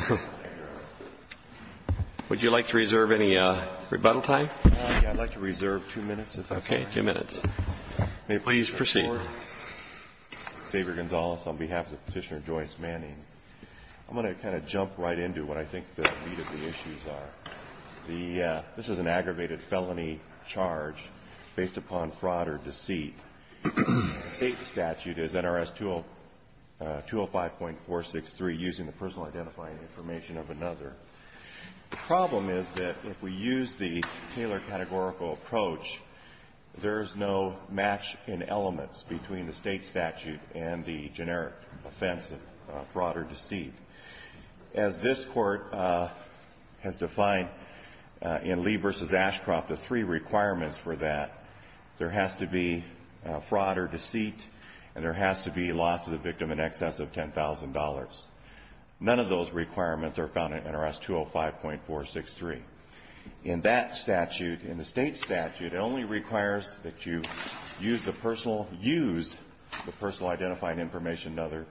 on behalf of Petitioner Joyce Manning. I'm going to kind of jump right into what I think the meat of the issues are. This is an aggravated felony charge based upon fraud or deceit. The state statute is NRS 205.463, using the personal identifying information of another. The problem is that if we use the Taylor categorical approach, there is no match in elements between the state statute and the generic offense of fraud or deceit. As this Court has defined in Lee v. Ashcroft, the three requirements for that, there has to be fraud or deceit and there has to be loss to the victim in excess of $10,000. None of those requirements are found in NRS 205.463. In that statute, in the state statute, it only requires that you use the personal identifying information of another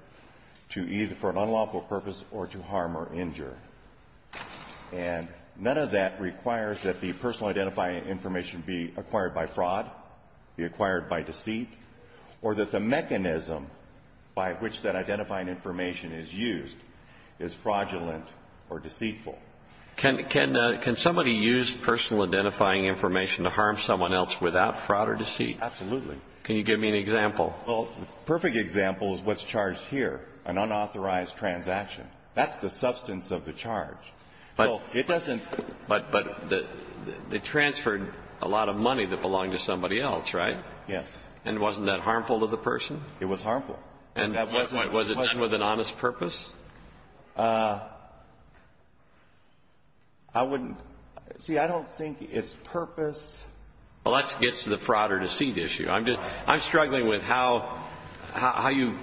to either for an unlawful purpose or to harm or injure. And none of that requires that the personal identifying information be acquired by fraud, be acquired by deceit, or that the mechanism by which that identifying information is used is fraudulent or deceitful. Can somebody use personal identifying information to harm someone else without fraud or deceit? Absolutely. Can you give me an example? Well, the perfect example is what's charged here, an unauthorized transaction. That's the substance of the charge. So it doesn't ---- But they transferred a lot of money that belonged to somebody else, right? Yes. And wasn't that harmful to the person? It was harmful. And was it done with an honest purpose? I wouldn't ---- see, I don't think it's purpose. Well, that gets to the fraud or deceit issue. I'm struggling with how you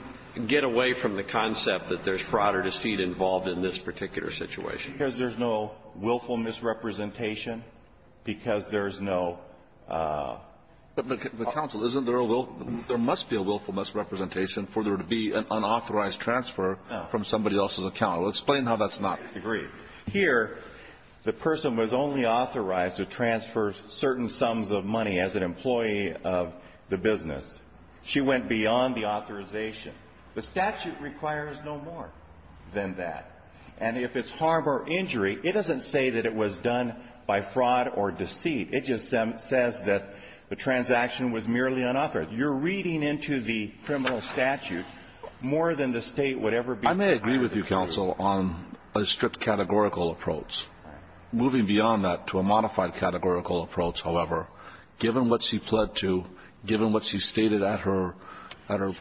get away from the concept that there's fraud or deceit involved in this particular situation. Because there's no willful misrepresentation, because there's no ---- But, counsel, isn't there a willful ---- there must be a willful misrepresentation for there to be an unauthorized transfer from somebody else's account. Explain how that's not. I agree. Here, the person was only authorized to transfer certain sums of money as an employee of the business. She went beyond the authorization. The statute requires no more than that. And if it's harm or injury, it doesn't say that it was done by fraud or deceit. It just says that the transaction was merely unauthorized. You're reading into the criminal statute more than the State would ever be ---- I agree with you, counsel, on a strict categorical approach. Moving beyond that to a modified categorical approach, however, given what she pled to, given what she stated at her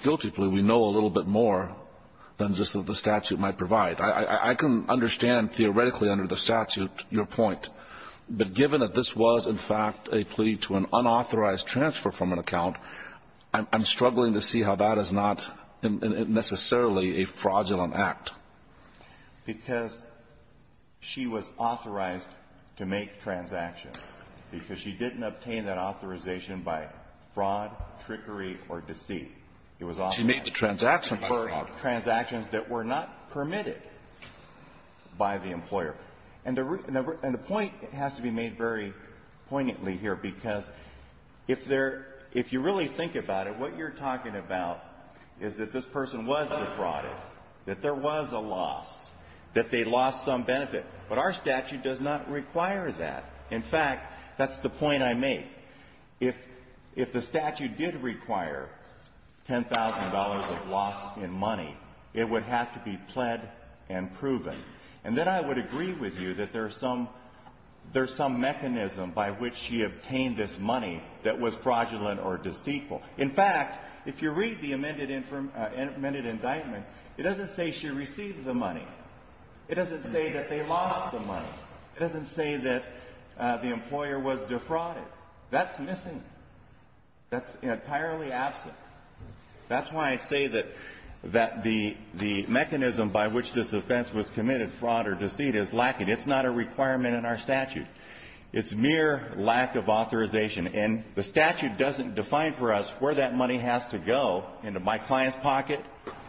guilty plea, we know a little bit more than just what the statute might provide. I can understand theoretically under the statute your point. But given that this was, in fact, a plea to an unauthorized transfer from an account, I'm struggling to see how that is not necessarily a fraudulent act. Because she was authorized to make transactions. Because she didn't obtain that authorization by fraud, trickery, or deceit. It was authorized. She made the transaction by fraud. For transactions that were not permitted by the employer. And the point has to be made very poignantly here, because if there ---- if you really think about it, what you're talking about is that this person was defrauded, that there was a loss, that they lost some benefit. But our statute does not require that. In fact, that's the point I make. If the statute did require $10,000 of loss in money, it would have to be pled and proven. And then I would agree with you that there's some mechanism by which she obtained this money that was fraudulent or deceitful. In fact, if you read the amended indictment, it doesn't say she received the money. It doesn't say that they lost the money. It doesn't say that the employer was defrauded. That's missing. That's entirely absent. That's why I say that the mechanism by which this offense was committed, fraud or deceit, is lacking. It's not a requirement in our statute. It's mere lack of authorization. And the statute doesn't define for us where that money has to go into my client's pocket,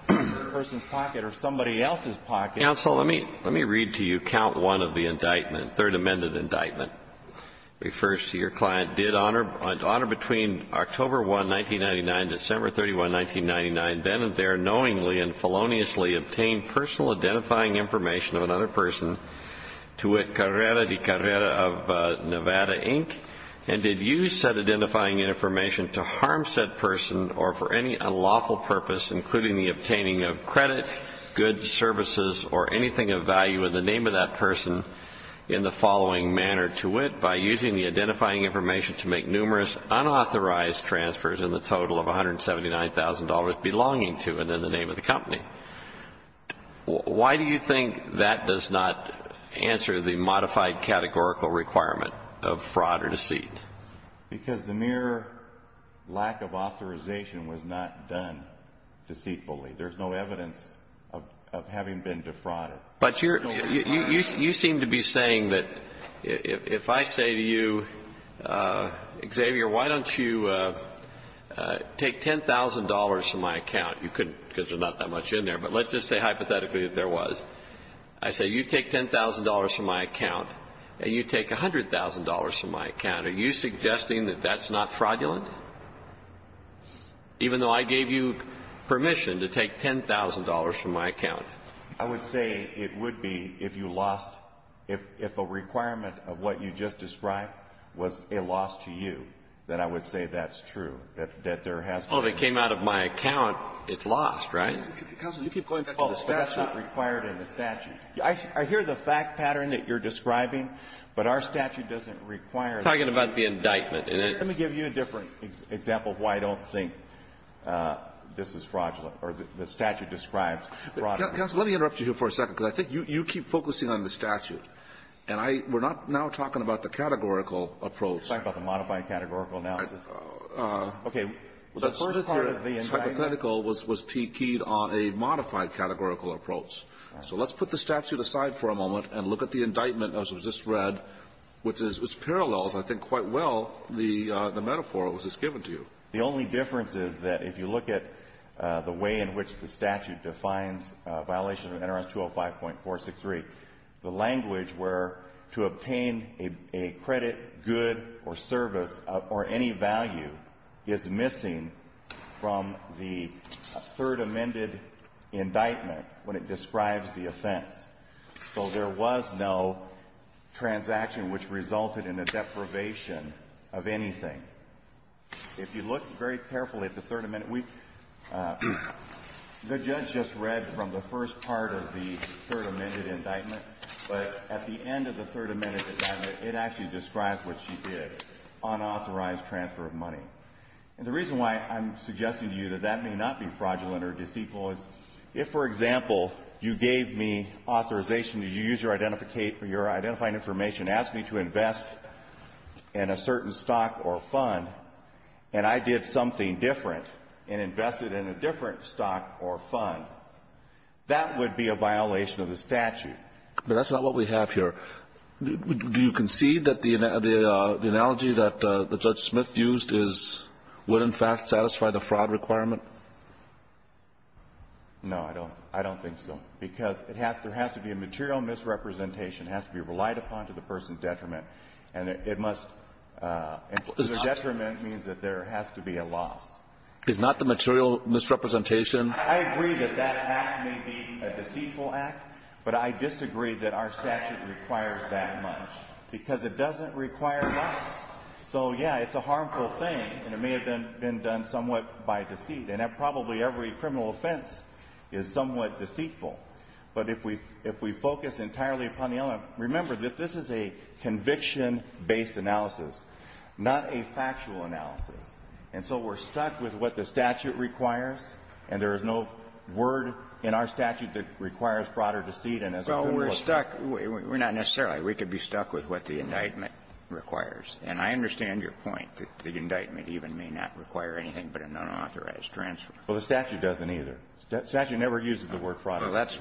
the person's pocket, or somebody else's pocket. Kennedy. Counsel, let me read to you count one of the indictment, third amended indictment. It refers to your client, did honor between October 1, 1999, December 31, 1999, then and there knowingly and feloniously obtain personal identifying information of another person, to wit, Carrera de Carrera of Nevada, Inc., and did use said identifying information to harm said person or for any unlawful purpose, including the obtaining of credit, goods, services, or anything of value in the name of that person in the following manner to wit, by using the identifying information to make numerous unauthorized transfers in the total of $179,000 belonging to and in the name of the company. Why do you think that does not answer the modified categorical requirement of fraud or deceit? Because the mere lack of authorization was not done deceitfully. There's no evidence of having been defrauded. But you're, you seem to be saying that if I say to you, Xavier, why don't you take $10,000 from my account, you couldn't, because there's not that much in there. But let's just say hypothetically that there was. I say you take $10,000 from my account and you take $100,000 from my account. Are you suggesting that that's not fraudulent? Even though I gave you permission to take $10,000 from my account. I would say it would be if you lost, if a requirement of what you just described was a loss to you, that I would say that's true, that there has been a loss. Well, if it came out of my account, it's lost, right? Counsel, you keep going back to the statute. Oh, that's not required in the statute. I hear the fact pattern that you're describing, but our statute doesn't require that. I'm talking about the indictment. Let me give you a different example of why I don't think this is fraudulent or the statute describes fraud. Counsel, let me interrupt you here for a second, because I think you keep focusing on the statute. And I we're not now talking about the categorical approach. You're talking about the modified categorical analysis. The first part of the indictment. The first part of the hypothetical was keyed on a modified categorical approach. So let's put the statute aside for a moment and look at the indictment, as was just read, which parallels, I think, quite well the metaphor that was just given to you. The only difference is that if you look at the way in which the statute defines violation of NRS 205.463, the language where to obtain a credit, good, or service or any value is missing from the third amended indictment when it describes the offense. So there was no transaction which resulted in a deprivation of anything. If you look very carefully at the third amendment, we the judge just read from the first part of the third amended indictment. But at the end of the third amended indictment, it actually describes what she did, unauthorized transfer of money. And the reason why I'm suggesting to you that that may not be fraudulent or disequal is if, for example, you gave me authorization to use your identifying information, asked me to invest in a certain stock or fund, and I did something different and invested in a different stock or fund, that would be a violation of the statute. But that's not what we have here. Do you concede that the analogy that Judge Smith used is, would, in fact, satisfy the fraud requirement? No, I don't. I don't think so. Because it has to be a material misrepresentation. It has to be relied upon to the person's detriment. And it must be a detriment means that there has to be a loss. Is not the material misrepresentation? I agree that that act may be a deceitful act, but I disagree that our statute requires that much, because it doesn't require loss. So, yeah, it's a harmful thing, and it may have been done somewhat by deceit. And that probably every criminal offense is somewhat deceitful. But if we focus entirely upon the element, remember that this is a conviction-based analysis, not a factual analysis, and so we're stuck with what the statute requires, and there is no word in our statute that requires fraud or deceit. Well, we're stuck. We're not necessarily. We could be stuck with what the indictment requires. And I understand your point that the indictment even may not require anything but a nonauthorized transfer. Well, the statute doesn't either. The statute never uses the word fraud. Well, that's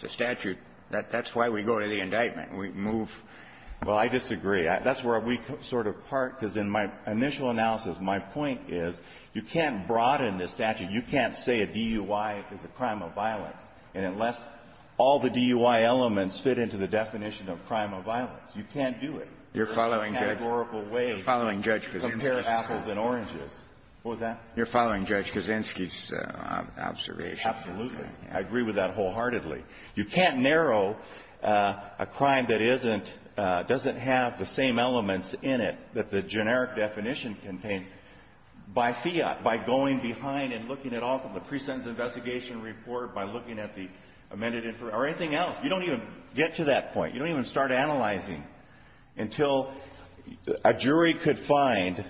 the statute. That's why we go to the indictment. We move. Well, I disagree. That's where we sort of part, because in my initial analysis, my point is you can't broaden the statute. You can't say a DUI is a crime of violence. And unless all the DUI elements fit into the definition of crime of violence, you can't do it. You're following, Judge? In a categorical way. You're following, Judge, because you insist. Compare apples and oranges. What was that? You're following, Judge, Kaczynski's observation. Absolutely. I agree with that wholeheartedly. You can't narrow a crime that isn't — doesn't have the same elements in it that the generic definition contained by fiat, by going behind and looking it off of the pre-sentence investigation report, by looking at the amended information, or anything else. You don't even get to that point. You don't even start analyzing until a jury could find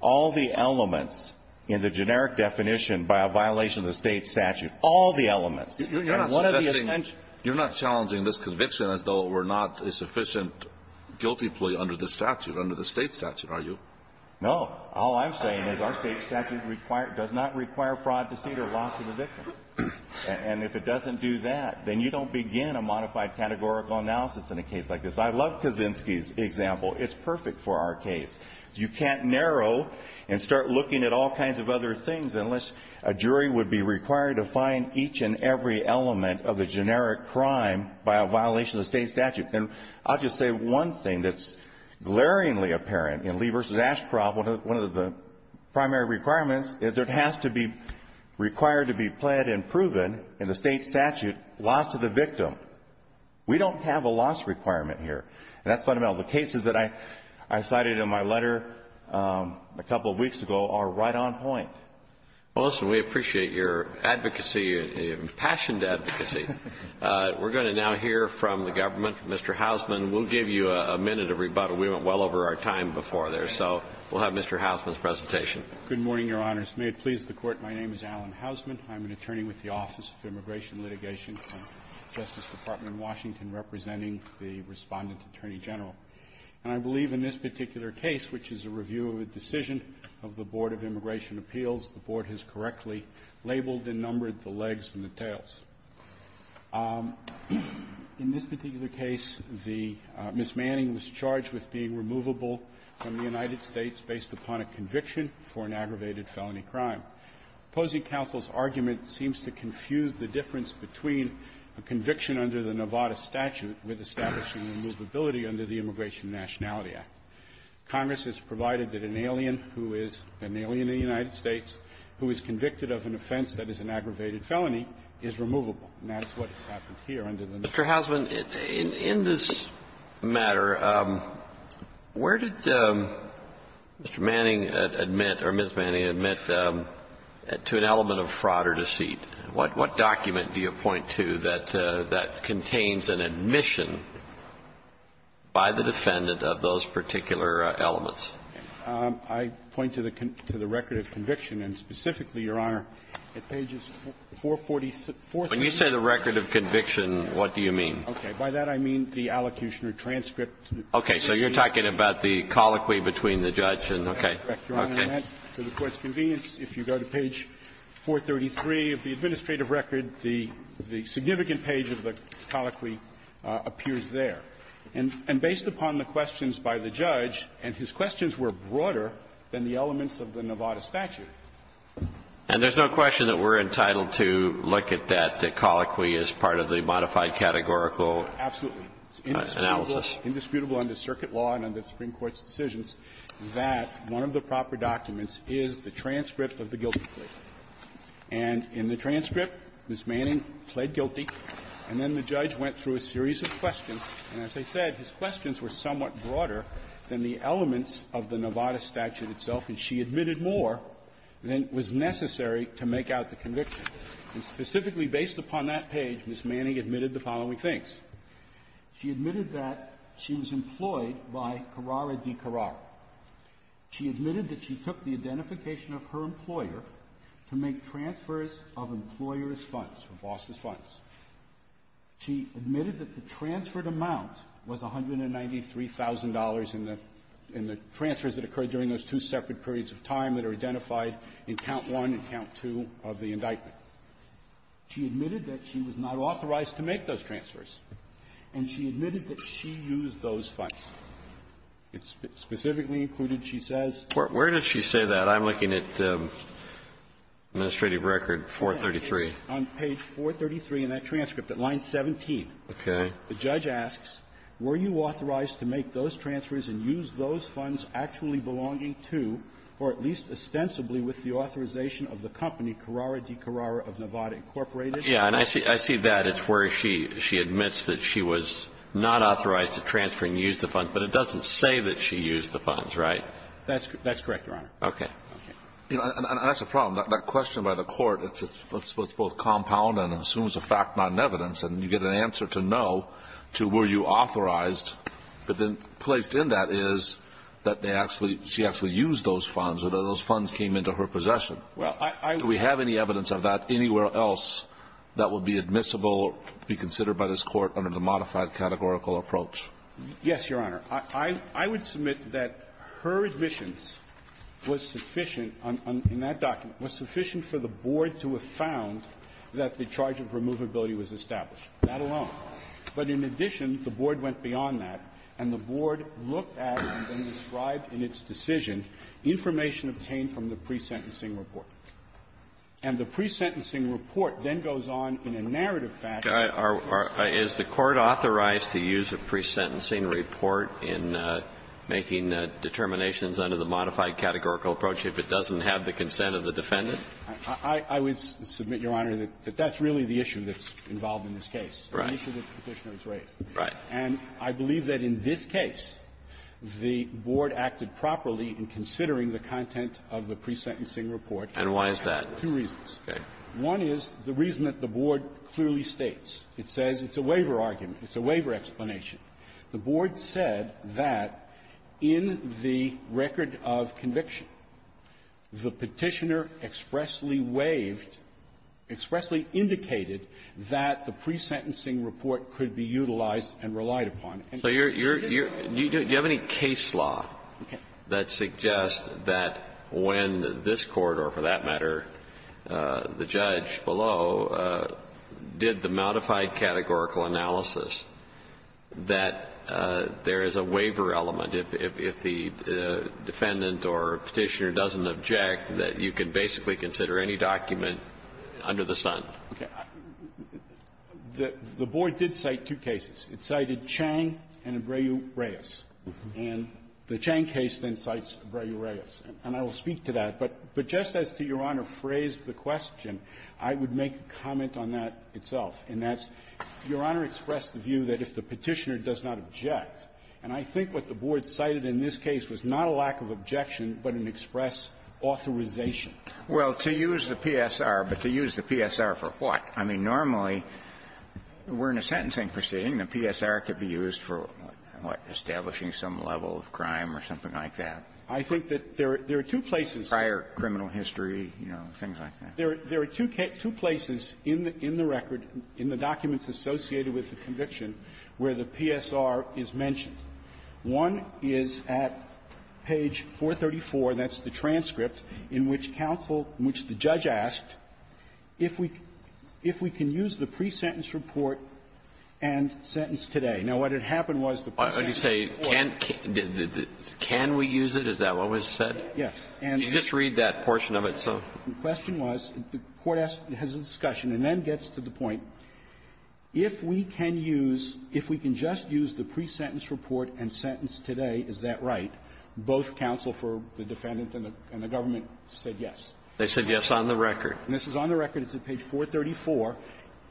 all the elements in the generic definition by a violation of the State statute, all the elements. You're not suggesting — you're not challenging this conviction as though it were not a sufficient guilty plea under the statute, under the State statute, are you? No. All I'm saying is our State statute requires — does not require fraud, deceit or loss of the victim. And if it doesn't do that, then you don't begin a modified categorical analysis in a case like this. I love Kaczynski's example. It's perfect for our case. You can't narrow and start looking at all kinds of other things unless a jury would be required to find each and every element of the generic crime by a violation of the State statute. And I'll just say one thing that's glaringly apparent in Lee v. Ashcroft, one of the primary requirements is it has to be required to be pled and proven in the State statute loss of the victim. We don't have a loss requirement here. And that's fundamental. The cases that I cited in my letter a couple of weeks ago are right on point. Well, listen, we appreciate your advocacy, your impassioned advocacy. We're going to now hear from the government, Mr. Hausman. We'll give you a minute of rebuttal. We went well over our time before there. So we'll have Mr. Hausman's presentation. Good morning, Your Honors. May it please the Court, my name is Alan Hausman. I'm an attorney with the Office of Immigration Litigation, Justice Department in Washington, representing the Respondent Attorney General. And I believe in this particular case, which is a review of a decision of the Board of Immigration Appeals, the Board has correctly labeled and numbered the legs and the tails. In this particular case, the Ms. Manning was charged with being removable from the United States based upon a conviction for an aggravated felony crime. Opposing counsel's argument seems to confuse the difference between a conviction under the Nevada statute with establishing removability under the Immigration Nationality Act. Congress has provided that an alien who is an alien in the United States who is convicted of an offense that is an aggravated felony is removable. Mr. Hausman, in this matter, where did Mr. Manning admit or Ms. Manning admit to an element of fraud or deceit? What document do you point to that contains an admission by the defendant of those particular elements? I point to the record of conviction, and specifically, Your Honor, at pages 446. When you say the record of conviction, what do you mean? Okay. By that, I mean the allocution or transcript. Okay. So you're talking about the colloquy between the judge and the court. Correct, Your Honor. Okay. For the Court's convenience, if you go to page 433 of the administrative record, the significant page of the colloquy appears there. And based upon the questions by the judge, and his questions were broader than the elements of the Nevada statute. And there's no question that we're entitled to look at that colloquy as part of the modified categorical analysis. Absolutely. It's indisputable under circuit law and under the Supreme Court's decisions that one of the proper documents is the transcript of the guilty plea. And in the transcript, Ms. Manning pled guilty, and then the judge went through a series of questions, and as I said, his questions were somewhat broader than the was necessary to make out the conviction. And specifically based upon that page, Ms. Manning admitted the following things. She admitted that she was employed by Carrara di Carrara. She admitted that she took the identification of her employer to make transfers of employers' funds, or bosses' funds. She admitted that the transferred amount was $193,000 in the – in the transfers that occurred during those two separate periods of time that are identified in Count I and Count II of the indictment. She admitted that she was not authorized to make those transfers, and she admitted that she used those funds. It specifically included, she says… Where does she say that? I'm looking at Administrative Record 433. On page 433 in that transcript, at line 17. Okay. The judge asks, were you authorized to make those transfers and use those funds actually belonging to, or at least ostensibly with the authorization of the company Carrara di Carrara of Nevada Incorporated? Yeah. And I see that. It's where she admits that she was not authorized to transfer and use the funds. But it doesn't say that she used the funds, right? That's correct, Your Honor. Okay. And that's the problem. That question by the Court, it's both compound and assumes a fact, not an evidence. And you get an answer to no, to were you authorized. But then placed in that is that they actually – she actually used those funds, or those funds came into her possession. Well, I… Do we have any evidence of that anywhere else that would be admissible, be considered by this Court under the modified categorical approach? Yes, Your Honor. I would submit that her admissions was sufficient on – in that document, was sufficient for the Board to have found that the charge of removability was established. That alone. But in addition, the Board went beyond that, and the Board looked at and then described in its decision information obtained from the pre-sentencing report. And the pre-sentencing report then goes on in a narrative fashion. Is the Court authorized to use a pre-sentencing report in making determinations under the modified categorical approach if it doesn't have the consent of the defendant? I would submit, Your Honor, that that's really the issue that's involved in this case. Right. It's an issue that the Petitioner has raised. Right. And I believe that in this case, the Board acted properly in considering the content of the pre-sentencing report. And why is that? Two reasons. Okay. One is the reason that the Board clearly states. It says it's a waiver argument. It's a waiver explanation. The Board said that in the record of conviction, the Petitioner expressly waived or expressedly indicated that the pre-sentencing report could be utilized and relied upon. So you're, you're, you're, do you have any case law that suggests that when this Court, or for that matter, the judge below, did the modified categorical analysis that there is a waiver element if, if, if the defendant or Petitioner doesn't object, that you can basically consider any document under the sun? Okay. The, the Board did cite two cases. It cited Chang and Abreu-Reyes. And the Chang case then cites Abreu-Reyes. And I will speak to that. But, but just as to Your Honor phrased the question, I would make a comment on that itself. And that's, Your Honor expressed the view that if the Petitioner does not object And I think what the Board cited in this case was not a lack of objection, but an express authorization. Well, to use the PSR, but to use the PSR for what? I mean, normally, we're in a sentencing proceeding, and the PSR could be used for, what, establishing some level of crime or something like that. I think that there are two places. Prior criminal history, you know, things like that. There are, there are two cases, two places in the, in the record, in the documents associated with the conviction, where the PSR is mentioned. One is at page 434, that's the transcript, in which counsel, in which the judge asked, if we, if we can use the pre-sentence report and sentence today. Now, what had happened was the pre-sentence report was the pre-sentence report. Alito, can we use it? Is that what was said? Yes. And you just read that portion of it, so. The question was, the Court asked, has a discussion, and then gets to the point, if we can use, if we can just use the pre-sentence report and sentence today, is that right? Both counsel for the defendant and the government said yes. They said yes on the record. And this is on the record. It's at page 434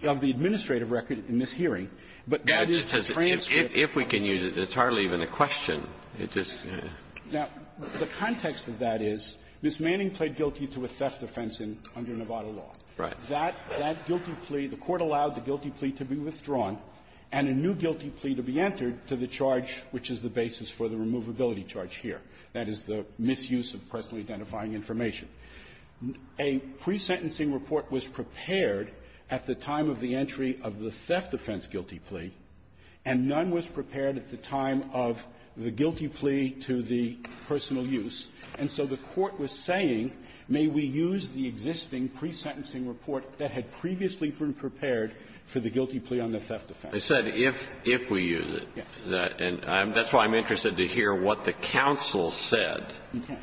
of the administrative record in this hearing. But that is the transcript. If we can use it, it's hardly even a question. It's just, you know. Now, the context of that is, Ms. Manning pled guilty to a theft offense in under Nevada law. Right. That guilty plea, the Court allowed the guilty plea to be withdrawn, and a new guilty plea to be entered to the charge, which is the basis for the removability charge here. That is the misuse of personally identifying information. A pre-sentencing report was prepared at the time of the entry of the theft offense guilty plea, and none was prepared at the time of the guilty plea to the personal use. And so the Court was saying, may we use the existing pre-sentencing report that had previously been prepared for the guilty plea on the theft offense? They said if we use it. Yes. And that's why I'm interested to hear what the counsel said. Okay.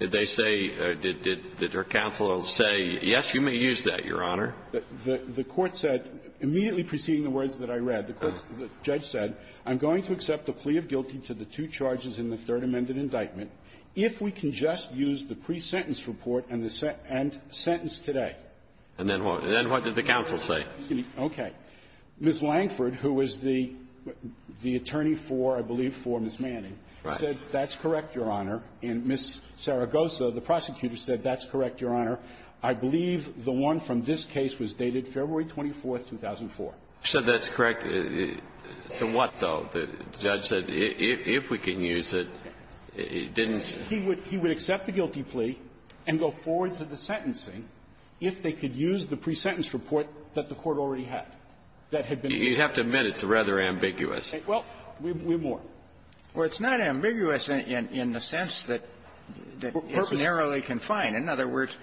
Did they say, did their counsel say, yes, you may use that, Your Honor? The Court said, immediately preceding the words that I read, the judge said, I'm going to accept the plea of guilty to the two charges in the Third Amendment indictment if we can just use the pre-sentence report and the sentence today. And then what? And then what did the counsel say? Okay. Ms. Langford, who was the attorney for, I believe, for Ms. Manning, said that's correct, Your Honor. And Ms. Saragosa, the prosecutor, said that's correct, Your Honor. I believe the one from this case was dated February 24th, 2004. So that's correct. The what, though? The judge said if we can use it, didn't he? He would accept the guilty plea and go forward to the sentencing if they could use the pre-sentence report that the Court already had, that had been made. You have to admit it's rather ambiguous. Well, we're more. Well, it's not ambiguous in the sense that it's narrowly confined. In other words,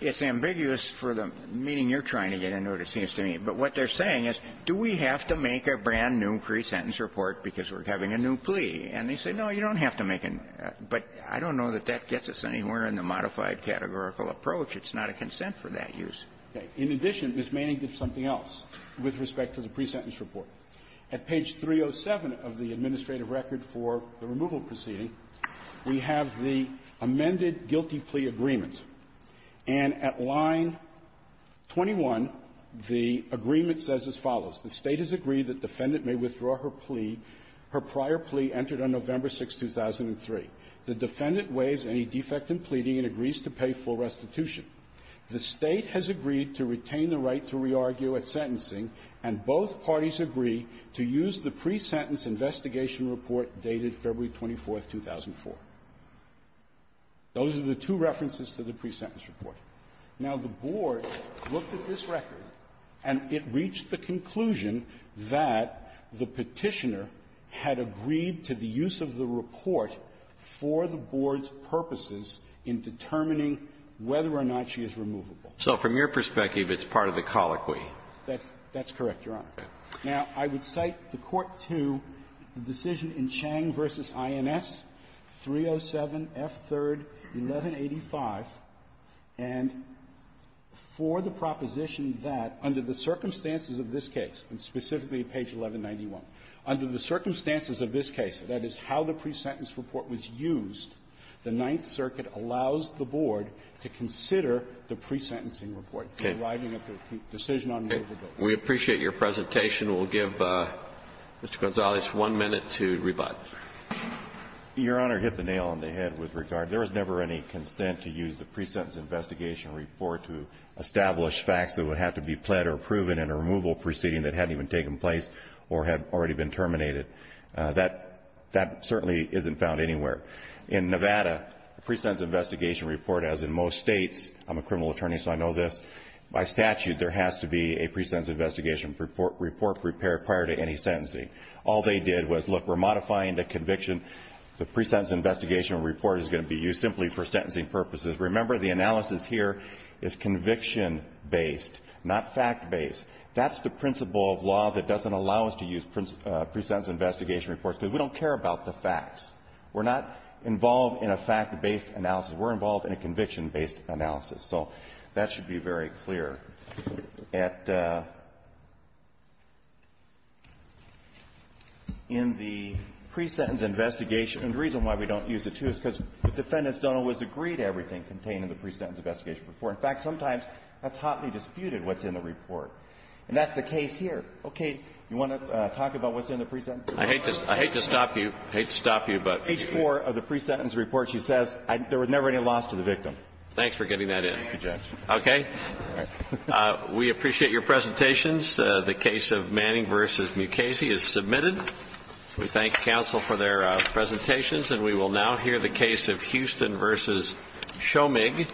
it's ambiguous for the meaning you're trying to get into, it seems to me. But what they're saying is, do we have to make a brand-new pre-sentence report because we're having a new plea? And they say, no, you don't have to make a new one. But I don't know that that gets us anywhere in the modified categorical approach. It's not a consent for that use. Okay. In addition, Ms. Manning did something else with respect to the pre-sentence report. At page 307 of the administrative record for the removal proceeding, we have the amended guilty plea agreement. And at line 21, the agreement says as follows. The State has agreed that defendant may withdraw her plea. Her prior plea entered on November 6, 2003. The defendant waives any defect in pleading and agrees to pay full restitution. The State has agreed to retain the right to re-argue at sentencing, and both parties agree to use the pre-sentence investigation report dated February 24, 2004. Those are the two references to the pre-sentence report. Now, the Board looked at this record, and it reached the conclusion that the Petitioner had agreed to the use of the report for the Board's purposes in determining whether or not she is removable. So from your perspective, it's part of the colloquy. That's correct, Your Honor. Now, I would cite the Court to the decision in Chang v. INS 307, F3rd, 1185. And for the proposition that, under the circumstances of this case, and specifically page 1191, under the circumstances of this case, that is, how the pre-sentence report was used, the Ninth Circuit allows the Board to consider the pre-sentencing report. Okay. Arriving at the decision on November 6th. We appreciate your presentation. We'll give Mr. Gonzalez one minute to rebut. Your Honor, hit the nail on the head with regard. There was never any consent to use the pre-sentence investigation report to establish facts that would have to be pled or proven in a removal proceeding that hadn't even taken place or had already been terminated. That certainly isn't found anywhere. In Nevada, the pre-sentence investigation report, as in most states, I'm a criminal report prepared prior to any sentencing. All they did was, look, we're modifying the conviction. The pre-sentence investigation report is going to be used simply for sentencing purposes. Remember, the analysis here is conviction-based, not fact-based. That's the principle of law that doesn't allow us to use pre-sentence investigation reports, because we don't care about the facts. We're not involved in a fact-based analysis. We're involved in a conviction-based analysis. So that should be very clear. In the pre-sentence investigation, and the reason why we don't use it, too, is because the defendants don't always agree to everything contained in the pre-sentence investigation report. In fact, sometimes that's hotly disputed, what's in the report. And that's the case here. Okay. You want to talk about what's in the pre-sentence report? I hate to stop you. I hate to stop you, but you need to stop me. Thanks for getting that in. Okay. We appreciate your presentations. The case of Manning v. Mukasey is submitted. We thank counsel for their presentations. And we will now hear the case of Houston v. Shomig.